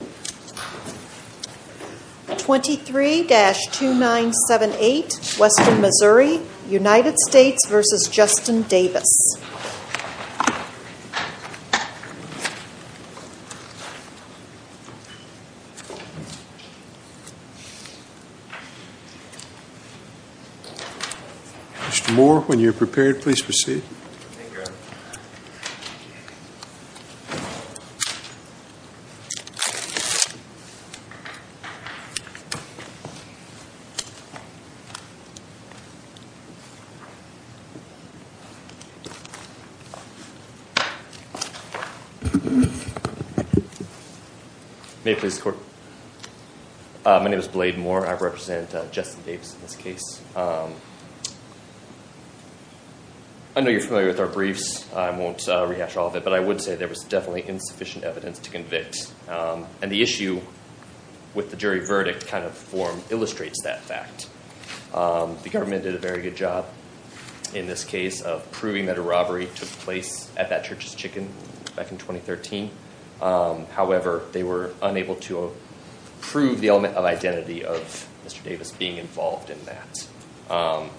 Mr. Moore, when you are prepared, please proceed. Thank you. May I please have the floor? My name is Blade Moore. I represent Justin Davis in this case. I know you're familiar with our briefs. I won't rehash all of it, but I would say there was definitely insufficient evidence to convict. And the issue with the jury verdict kind of form illustrates that fact. The government did a very good job in this case of proving that a robbery took place at that church's chicken back in 2013. However, they were unable to prove the element of identity of Mr. Davis being involved in that.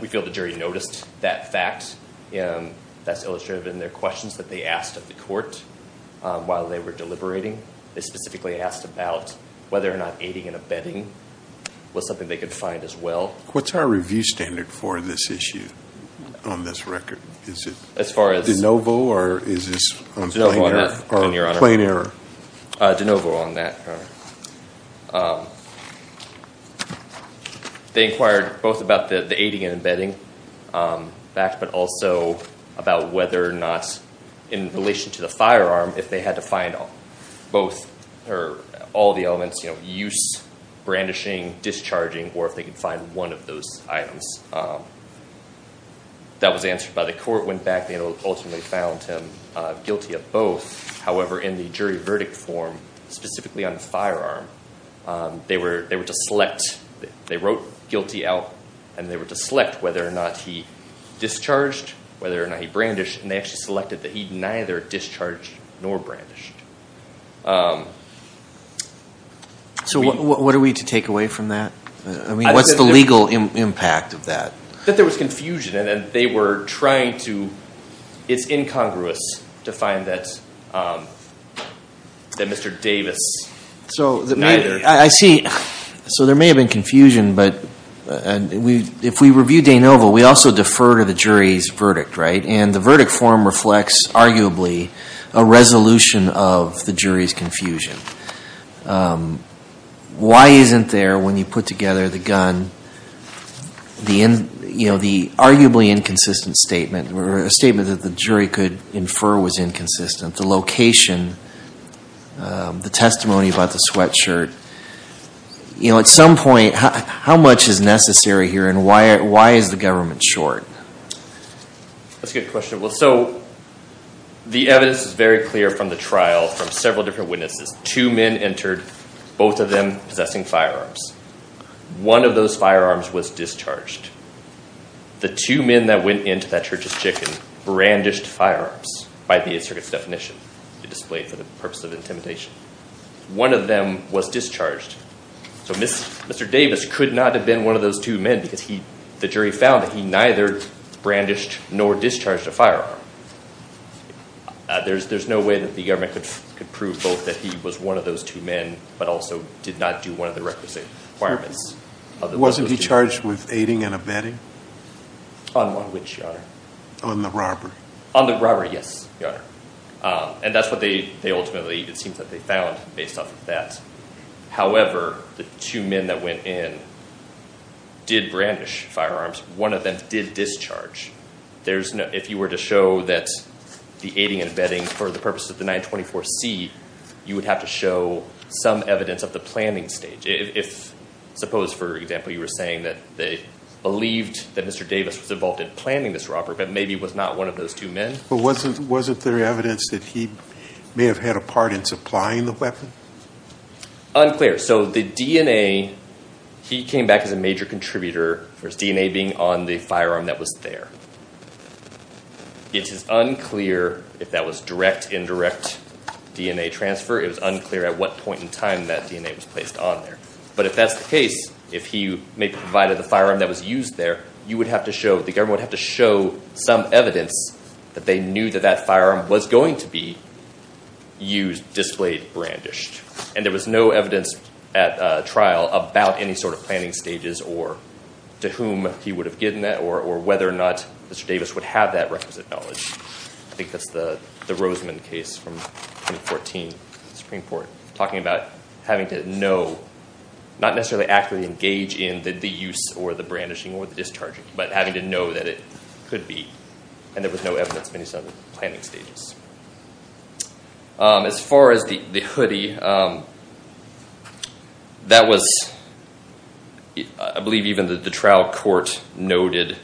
We feel the jury noticed that fact, and that's illustrated in their questions that they asked of the court while they were deliberating. They specifically asked about whether or not aiding and abetting was something they could find as well. What's our review standard for this issue on this record? Is it de novo or is this on plain error? De novo on that. They inquired both about the aiding and abetting fact, but also about whether or not, in relation to the firearm, if they had to find all the elements, use, brandishing, discharging, or if they could find one of those items. That was answered by the court, went back, and ultimately found him guilty of both. However, in the jury verdict form, specifically on the firearm, they were to select. They wrote guilty out, and they were to select whether or not he discharged, whether or not he brandished, and they actually selected that he neither discharged nor brandished. So what are we to take away from that? I mean, what's the legal impact of that? That there was confusion, and they were trying to, it's incongruous to find that Mr. Davis neither. I see. So there may have been confusion, but if we review de novo, we also defer to the jury's verdict, right? And the verdict form reflects, arguably, a resolution of the jury's confusion. Why isn't there, when you put together the gun, the arguably inconsistent statement, or a statement that the jury could infer was inconsistent, the location, the testimony about the sweatshirt? At some point, how much is necessary here, and why is the government short? That's a good question. Well, so the evidence is very clear from the trial, from several different witnesses. Two men entered, both of them possessing firearms. One of those firearms was discharged. The two men that went into that church's chicken brandished firearms, by the Eighth Circuit's definition. It displayed for the purpose of intimidation. One of them was discharged. So Mr. Davis could not have been one of those two men, because the jury found that he neither brandished nor discharged a firearm. There's no way that the government could prove both that he was one of those two men, but also did not do one of the requisite requirements. Wasn't he charged with aiding and abetting? On which, Your Honor? On the robbery. On the robbery, yes, Your Honor. And that's what they ultimately, it seems that they found, based off of that. However, the two men that went in did brandish firearms. One of them did discharge. If you were to show that the aiding and abetting for the purpose of the 924-C, you would have to show some evidence of the planning stage. Suppose, for example, you were saying that they believed that Mr. Davis was involved in planning this robbery, but maybe was not one of those two men. But wasn't there evidence that he may have had a part in supplying the weapon? Unclear. So the DNA, he came back as a major contributor, with DNA being on the firearm that was there. It is unclear if that was direct, indirect DNA transfer. It was unclear at what point in time that DNA was placed on there. But if that's the case, if he may have provided the firearm that was used there, you would have to show, the government would have to show some evidence that they knew that that firearm was going to be used, displayed, brandished. And there was no evidence at trial about any sort of planning stages or to whom he would have given that or whether or not Mr. Davis would have that requisite knowledge. I think that's the Roseman case from 2014, Supreme Court, talking about having to know, not necessarily accurately engage in the use or the brandishing or the discharging, but having to know that it could be. And there was no evidence of any sort of planning stages. As far as the hoodie, that was, I believe even the trial court noted,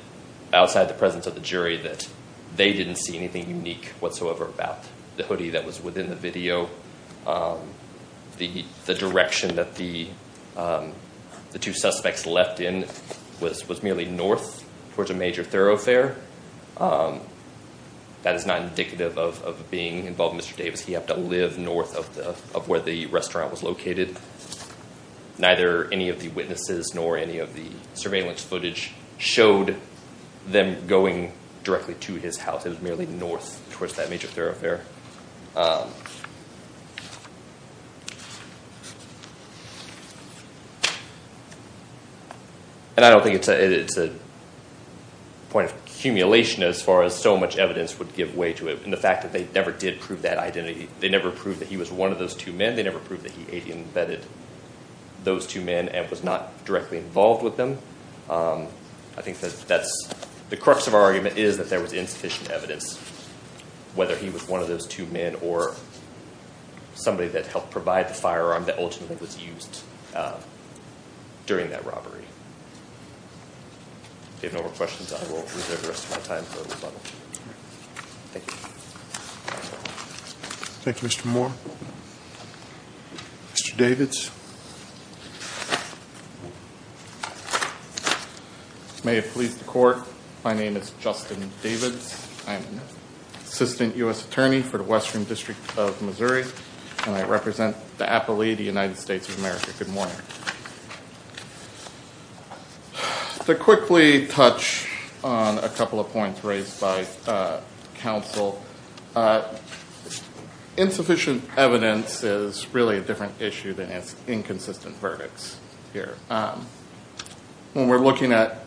outside the presence of the jury, that they didn't see anything unique whatsoever about the hoodie that was within the video. The direction that the two suspects left in was merely north towards a major thoroughfare. That is not indicative of being involved in Mr. Davis. He happened to live north of where the restaurant was located. Neither any of the witnesses nor any of the surveillance footage showed them going directly to his house. It was merely north towards that major thoroughfare. And I don't think it's a point of accumulation as far as so much evidence would give way to it and the fact that they never did prove that identity. They never proved that he was one of those two men. They never proved that he had embedded those two men and was not directly involved with them. I think that the crux of our argument is that there was insufficient evidence, whether he was one of those two men or somebody that helped provide the firearm that ultimately was used during that robbery. If you have no more questions, I will reserve the rest of my time for rebuttal. Thank you. Thank you, Mr. Moore. Mr. Davis. May it please the Court, my name is Justin Davis. I'm an assistant U.S. attorney for the Western District of Missouri, and I represent the Appellee of the United States of America. Good morning. To quickly touch on a couple of points raised by counsel, insufficient evidence is really a different issue than its inconsistent verdicts here. When we're looking at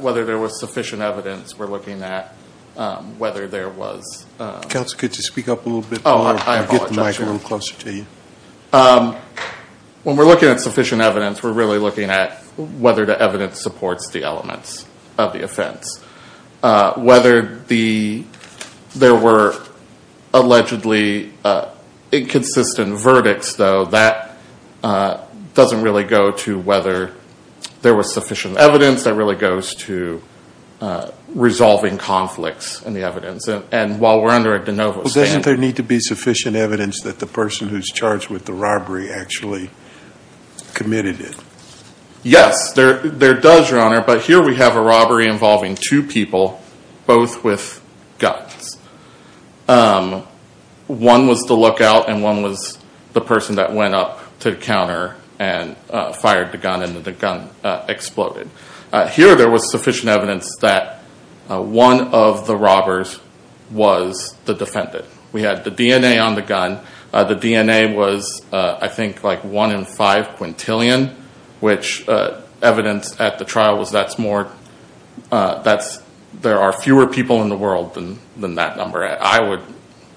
whether there was sufficient evidence, we're looking at whether there was... Counsel, could you speak up a little bit more? Oh, I apologize. I'll get the microphone closer to you. When we're looking at sufficient evidence, we're really looking at whether the evidence supports the elements of the offense. Whether there were allegedly inconsistent verdicts, though, that doesn't really go to whether there was sufficient evidence. That really goes to resolving conflicts in the evidence. And while we're under a de novo stand... Doesn't there need to be sufficient evidence that the person who's charged with the robbery actually committed it? Yes, there does, Your Honor. But here we have a robbery involving two people, both with guns. One was the lookout, and one was the person that went up to the counter and fired the gun, and the gun exploded. Here there was sufficient evidence that one of the robbers was the defendant. We had the DNA on the gun. The DNA was, I think, like one in five quintillion, which evidence at the trial was that there are fewer people in the world than that number. I would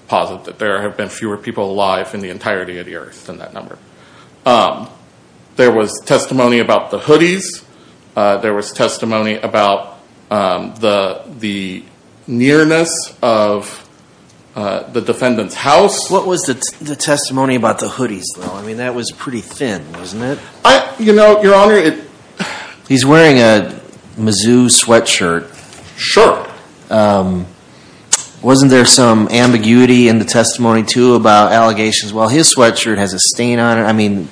posit that there have been fewer people alive in the entirety of the earth than that number. There was testimony about the hoodies. There was testimony about the nearness of the defendant's house. What was the testimony about the hoodies, though? I mean, that was pretty thin, wasn't it? You know, Your Honor, it... He's wearing a Mizzou sweatshirt. Sure. Wasn't there some ambiguity in the testimony, too, about allegations? Well, his sweatshirt has a stain on it. I mean,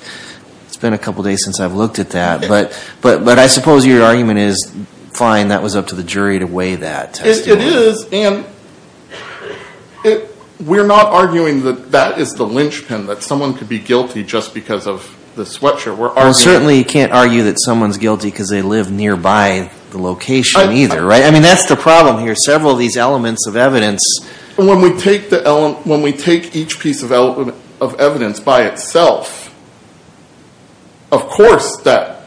it's been a couple days since I've looked at that. But I suppose your argument is, fine, that was up to the jury to weigh that testimony. It is, and we're not arguing that that is the linchpin, that someone could be guilty just because of the sweatshirt. We're arguing... Well, certainly you can't argue that someone's guilty because they live nearby the location either, right? I mean, that's the problem here. Several of these elements of evidence... When we take each piece of evidence by itself, of course that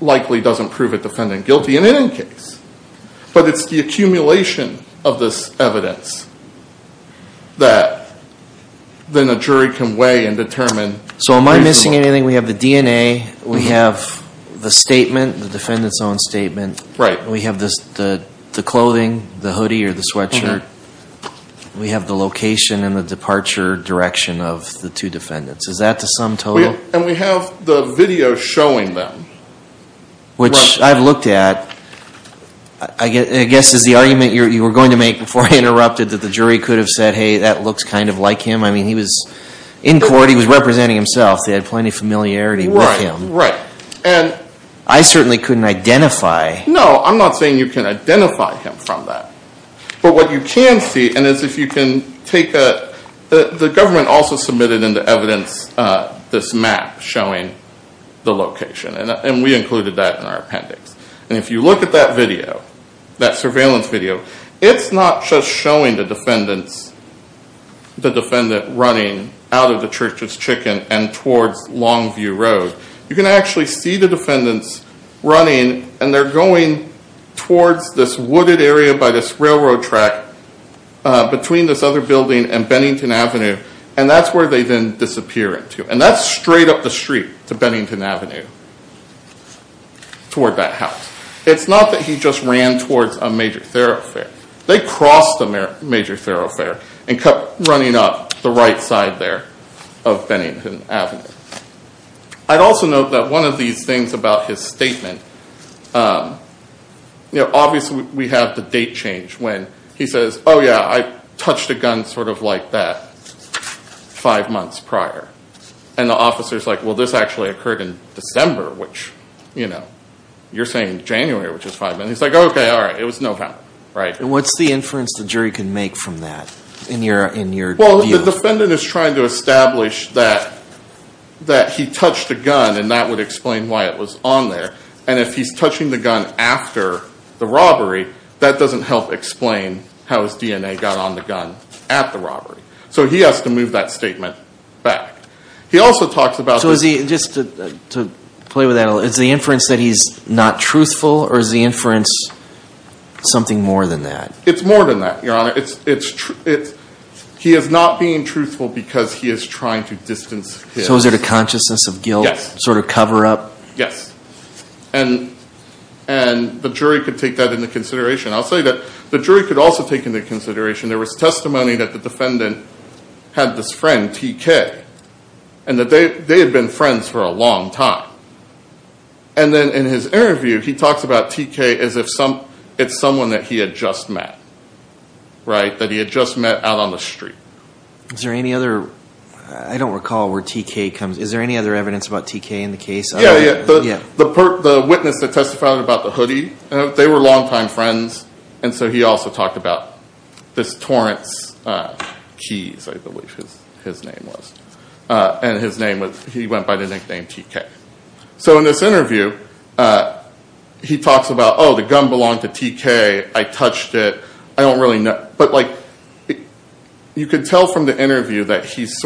likely doesn't prove a defendant guilty in any case. But it's the accumulation of this evidence that then a jury can weigh and determine... So am I missing anything? We have the DNA. We have the statement, the defendant's own statement. Right. We have the clothing, the hoodie or the sweatshirt. We have the location and the departure direction of the two defendants. Is that the sum total? And we have the video showing them. Which I've looked at, I guess is the argument you were going to make before I interrupted that the jury could have said, hey, that looks kind of like him. I mean, he was in court. He was representing himself. They had plenty of familiarity with him. Right, right. And... I certainly couldn't identify... No, I'm not saying you can identify him from that. But what you can see, and is if you can take a... The government also submitted into evidence this map showing the location. And we included that in our appendix. And if you look at that video, that surveillance video, it's not just showing the defendant running out of the Church's Chicken and towards Longview Road. You can actually see the defendants running, and they're going towards this wooded area by this railroad track between this other building and Bennington Avenue. And that's where they then disappear into. And that's straight up the street to Bennington Avenue toward that house. It's not that he just ran towards a major thoroughfare. They crossed the major thoroughfare and kept running up the right side there of Bennington Avenue. I'd also note that one of these things about his statement... Obviously, we have the date change when he says, oh, yeah, I touched a gun sort of like that five months prior. And the officer's like, well, this actually occurred in December, which you're saying January, which is five months. He's like, okay, all right. It was no count, right? And what's the inference the jury can make from that in your view? Well, the defendant is trying to establish that he touched a gun, and that would explain why it was on there. And if he's touching the gun after the robbery, that doesn't help explain how his DNA got on the gun at the robbery. So he has to move that statement back. He also talks about... So is he... just to play with that a little, is the inference that he's not truthful, or is the inference something more than that? It's more than that, Your Honor. It's... he is not being truthful because he is trying to distance his... So is it a consciousness of guilt? Yes. Sort of cover up? Yes. And the jury could take that into consideration. I'll say that the jury could also take into consideration there was testimony that the defendant had this friend, TK, and that they had been friends for a long time. And then in his interview, he talks about TK as if it's someone that he had just met, right, that he had just met out on the street. Is there any other... I don't recall where TK comes... Is there any other evidence about TK in the case? Yeah, yeah. The witness that testified about the hoodie, they were long-time friends. And so he also talked about this Torrance Keys, I believe his name was. And his name was... he went by the nickname TK. So in this interview, he talks about, oh, the gun belonged to TK. I touched it. I don't really know. You could tell from the interview that he's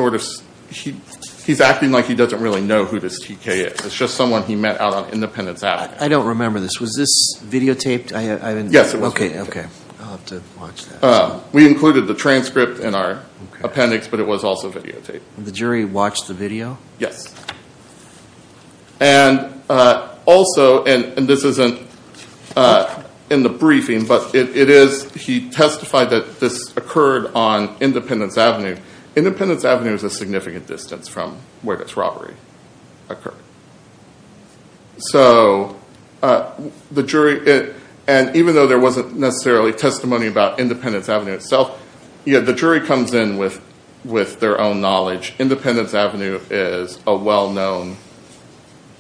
acting like he doesn't really know who this TK is. It's just someone he met out on Independence Avenue. I don't remember this. Was this videotaped? Yes, it was videotaped. Okay, okay. I'll have to watch that. We included the transcript in our appendix, but it was also videotaped. The jury watched the video? Yes. And also, and this isn't in the briefing, but it is... He testified that this occurred on Independence Avenue. Independence Avenue is a significant distance from where this robbery occurred. So the jury... And even though there wasn't necessarily testimony about Independence Avenue itself, the jury comes in with their own knowledge. Independence Avenue is a well-known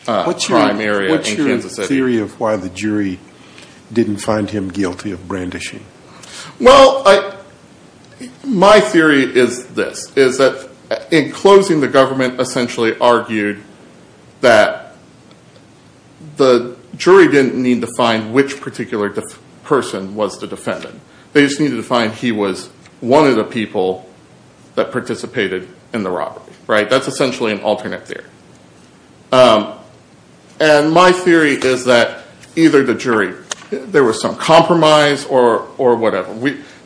crime area in Kansas City. What's your theory of why the jury didn't find him guilty of brandishing? Well, my theory is this, is that in closing, the government essentially argued that the jury didn't need to find which particular person was the defendant. They just needed to find he was one of the people that participated in the robbery. Right? That's essentially an alternate theory. And my theory is that either the jury... There was some compromise or whatever.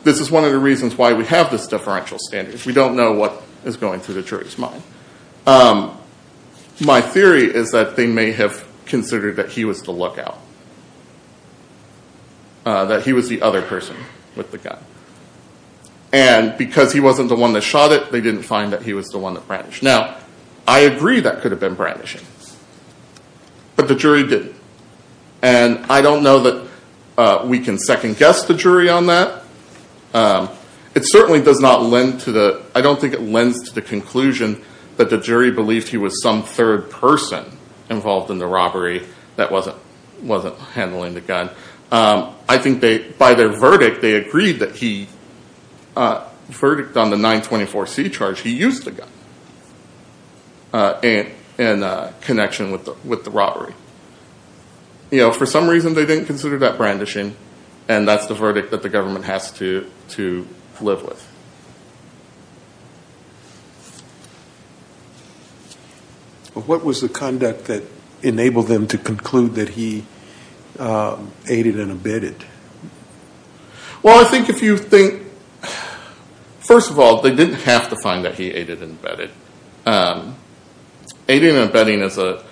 This is one of the reasons why we have this differential standard. We don't know what is going through the jury's mind. My theory is that they may have considered that he was the lookout. That he was the other person with the gun. And because he wasn't the one that shot it, they didn't find that he was the one that brandished. Now, I agree that could have been brandishing. But the jury didn't. And I don't know that we can second-guess the jury on that. It certainly does not lend to the... He wasn't handling the gun. I think by their verdict, they agreed that he... Verdict on the 924C charge, he used the gun in connection with the robbery. For some reason, they didn't consider that brandishing. And that's the verdict that the government has to live with. What was the conduct that enabled them to conclude that he aided and abetted? Well, I think if you think... First of all, they didn't have to find that he aided and abetted. Aiding and abetting is a...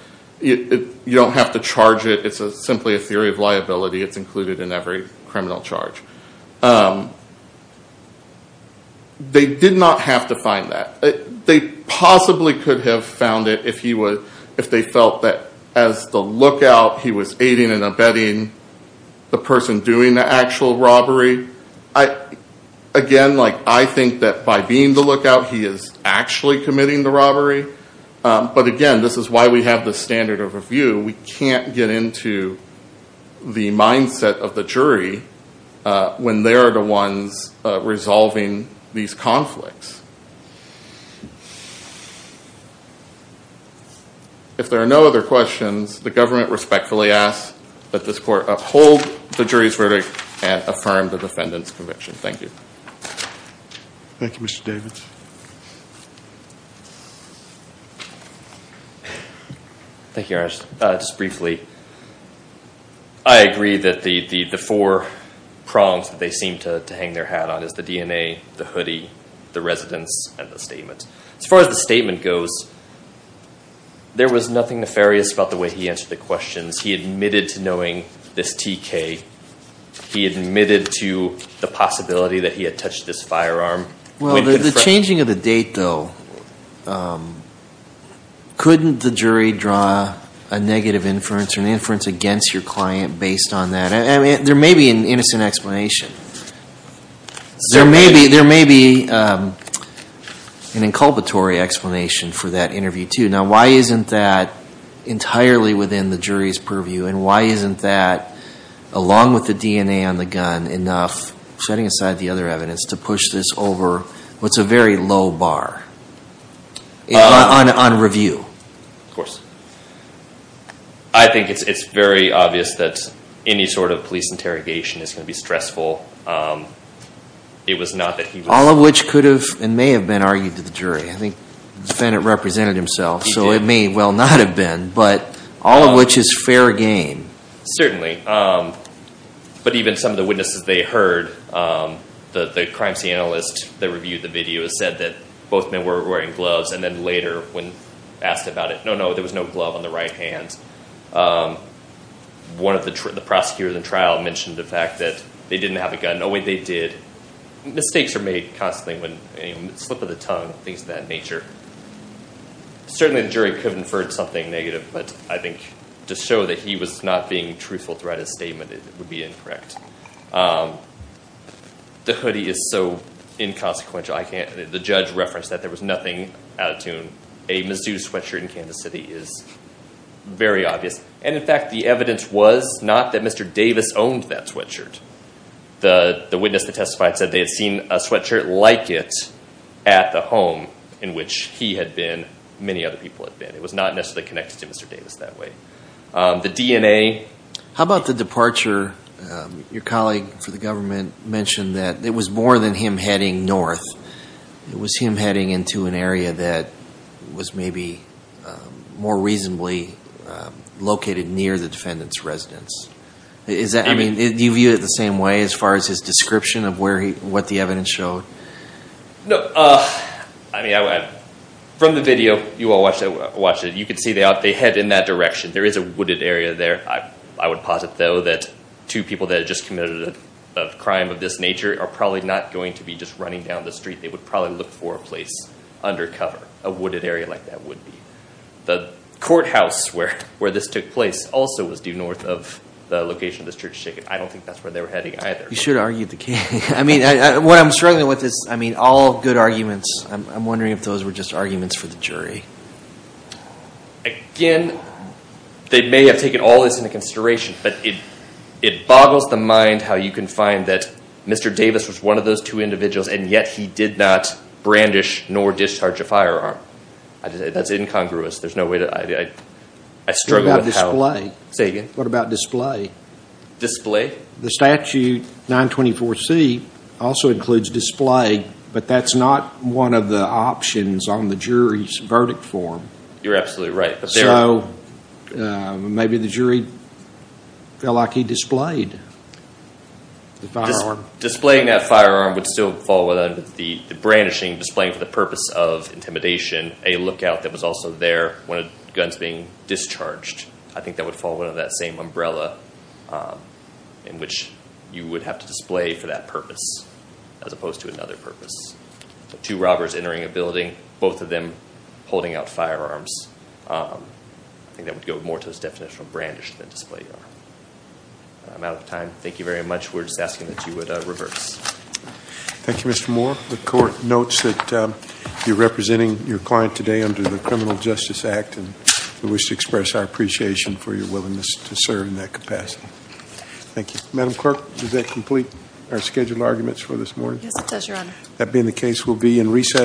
You don't have to charge it. It's simply a theory of liability. It's included in every criminal charge. They did not have to find that. They possibly could have found it if they felt that as the lookout, he was aiding and abetting the person doing the actual robbery. Again, I think that by being the lookout, he is actually committing the robbery. But again, this is why we have the standard of review. We can't get into the mindset of the jury when they are the ones resolving these conflicts. If there are no other questions, the government respectfully asks that this court uphold the jury's verdict and affirm the defendant's conviction. Thank you. Thank you, Mr. Davids. Thank you, Your Honor. Just briefly, I agree that the four prongs that they seem to hang their hat on is the DNA, the hoodie, the residence, and the statement. As far as the statement goes, there was nothing nefarious about the way he answered the questions. He admitted to knowing this TK. He admitted to the possibility that he had touched this firearm. Well, the changing of the date, though, couldn't the jury draw a negative inference or an inference against your client based on that? There may be an innocent explanation. There may be an inculpatory explanation for that interview, too. Now, why isn't that entirely within the jury's purview, and why isn't that, along with the DNA on the gun, enough, setting aside the other evidence, to push this over what's a very low bar on review? Of course. I think it's very obvious that any sort of police interrogation is going to be stressful. It was not that he was- All of which could have and may have been argued to the jury. I think the defendant represented himself, so it may well not have been, but all of which is fair game. But even some of the witnesses they heard, the crime scene analyst that reviewed the video, said that both men were wearing gloves, and then later when asked about it, no, no, there was no glove on the right hand. One of the prosecutors in trial mentioned the fact that they didn't have a gun. Oh, wait, they did. Mistakes are made constantly when a slip of the tongue, things of that nature. Certainly the jury could have inferred something negative, but I think to show that he was not being truthful throughout his statement would be incorrect. The hoodie is so inconsequential. The judge referenced that there was nothing out of tune. A Mizzou sweatshirt in Kansas City is very obvious. And in fact, the evidence was not that Mr. Davis owned that sweatshirt. The witness that testified said they had seen a sweatshirt like it at the home in which he had been, many other people had been. It was not necessarily connected to Mr. Davis that way. The DNA- How about the departure? Your colleague for the government mentioned that it was more than him heading north. It was him heading into an area that was maybe more reasonably located near the defendant's residence. Do you view it the same way as far as his description of what the evidence showed? No. From the video you all watched, you can see they head in that direction. There is a wooded area there. I would posit, though, that two people that had just committed a crime of this nature are probably not going to be just running down the street. They would probably look for a place undercover. A wooded area like that would be. The courthouse where this took place also was due north of the location of this church ticket. I don't think that's where they were heading either. You should argue the case. What I'm struggling with is all good arguments. I'm wondering if those were just arguments for the jury. Again, they may have taken all this into consideration, but it boggles the mind how you can find that Mr. Davis was one of those two individuals and yet he did not brandish nor discharge a firearm. That's incongruous. I struggle with how. Say again? What about display? Display? The statute 924C also includes display, but that's not one of the options on the jury's verdict form. You're absolutely right. Maybe the jury felt like he displayed the firearm. Displaying that firearm would still fall under the brandishing, displaying for the purpose of intimidation a lookout that was also there when a gun is being discharged. I think that would fall under that same umbrella in which you would have to display for that purpose as opposed to another purpose. Two robbers entering a building, both of them holding out firearms. I think that would go more to this definition of brandish than display. I'm out of time. Thank you very much. We're just asking that you would reverse. Thank you, Mr. Moore. The court notes that you're representing your client today under the Criminal Justice Act and we wish to express our appreciation for your willingness to serve in that capacity. Thank you. Madam Clerk, does that complete our scheduled arguments for this morning? Yes, it does, Your Honor. That being the case, we'll be in recess.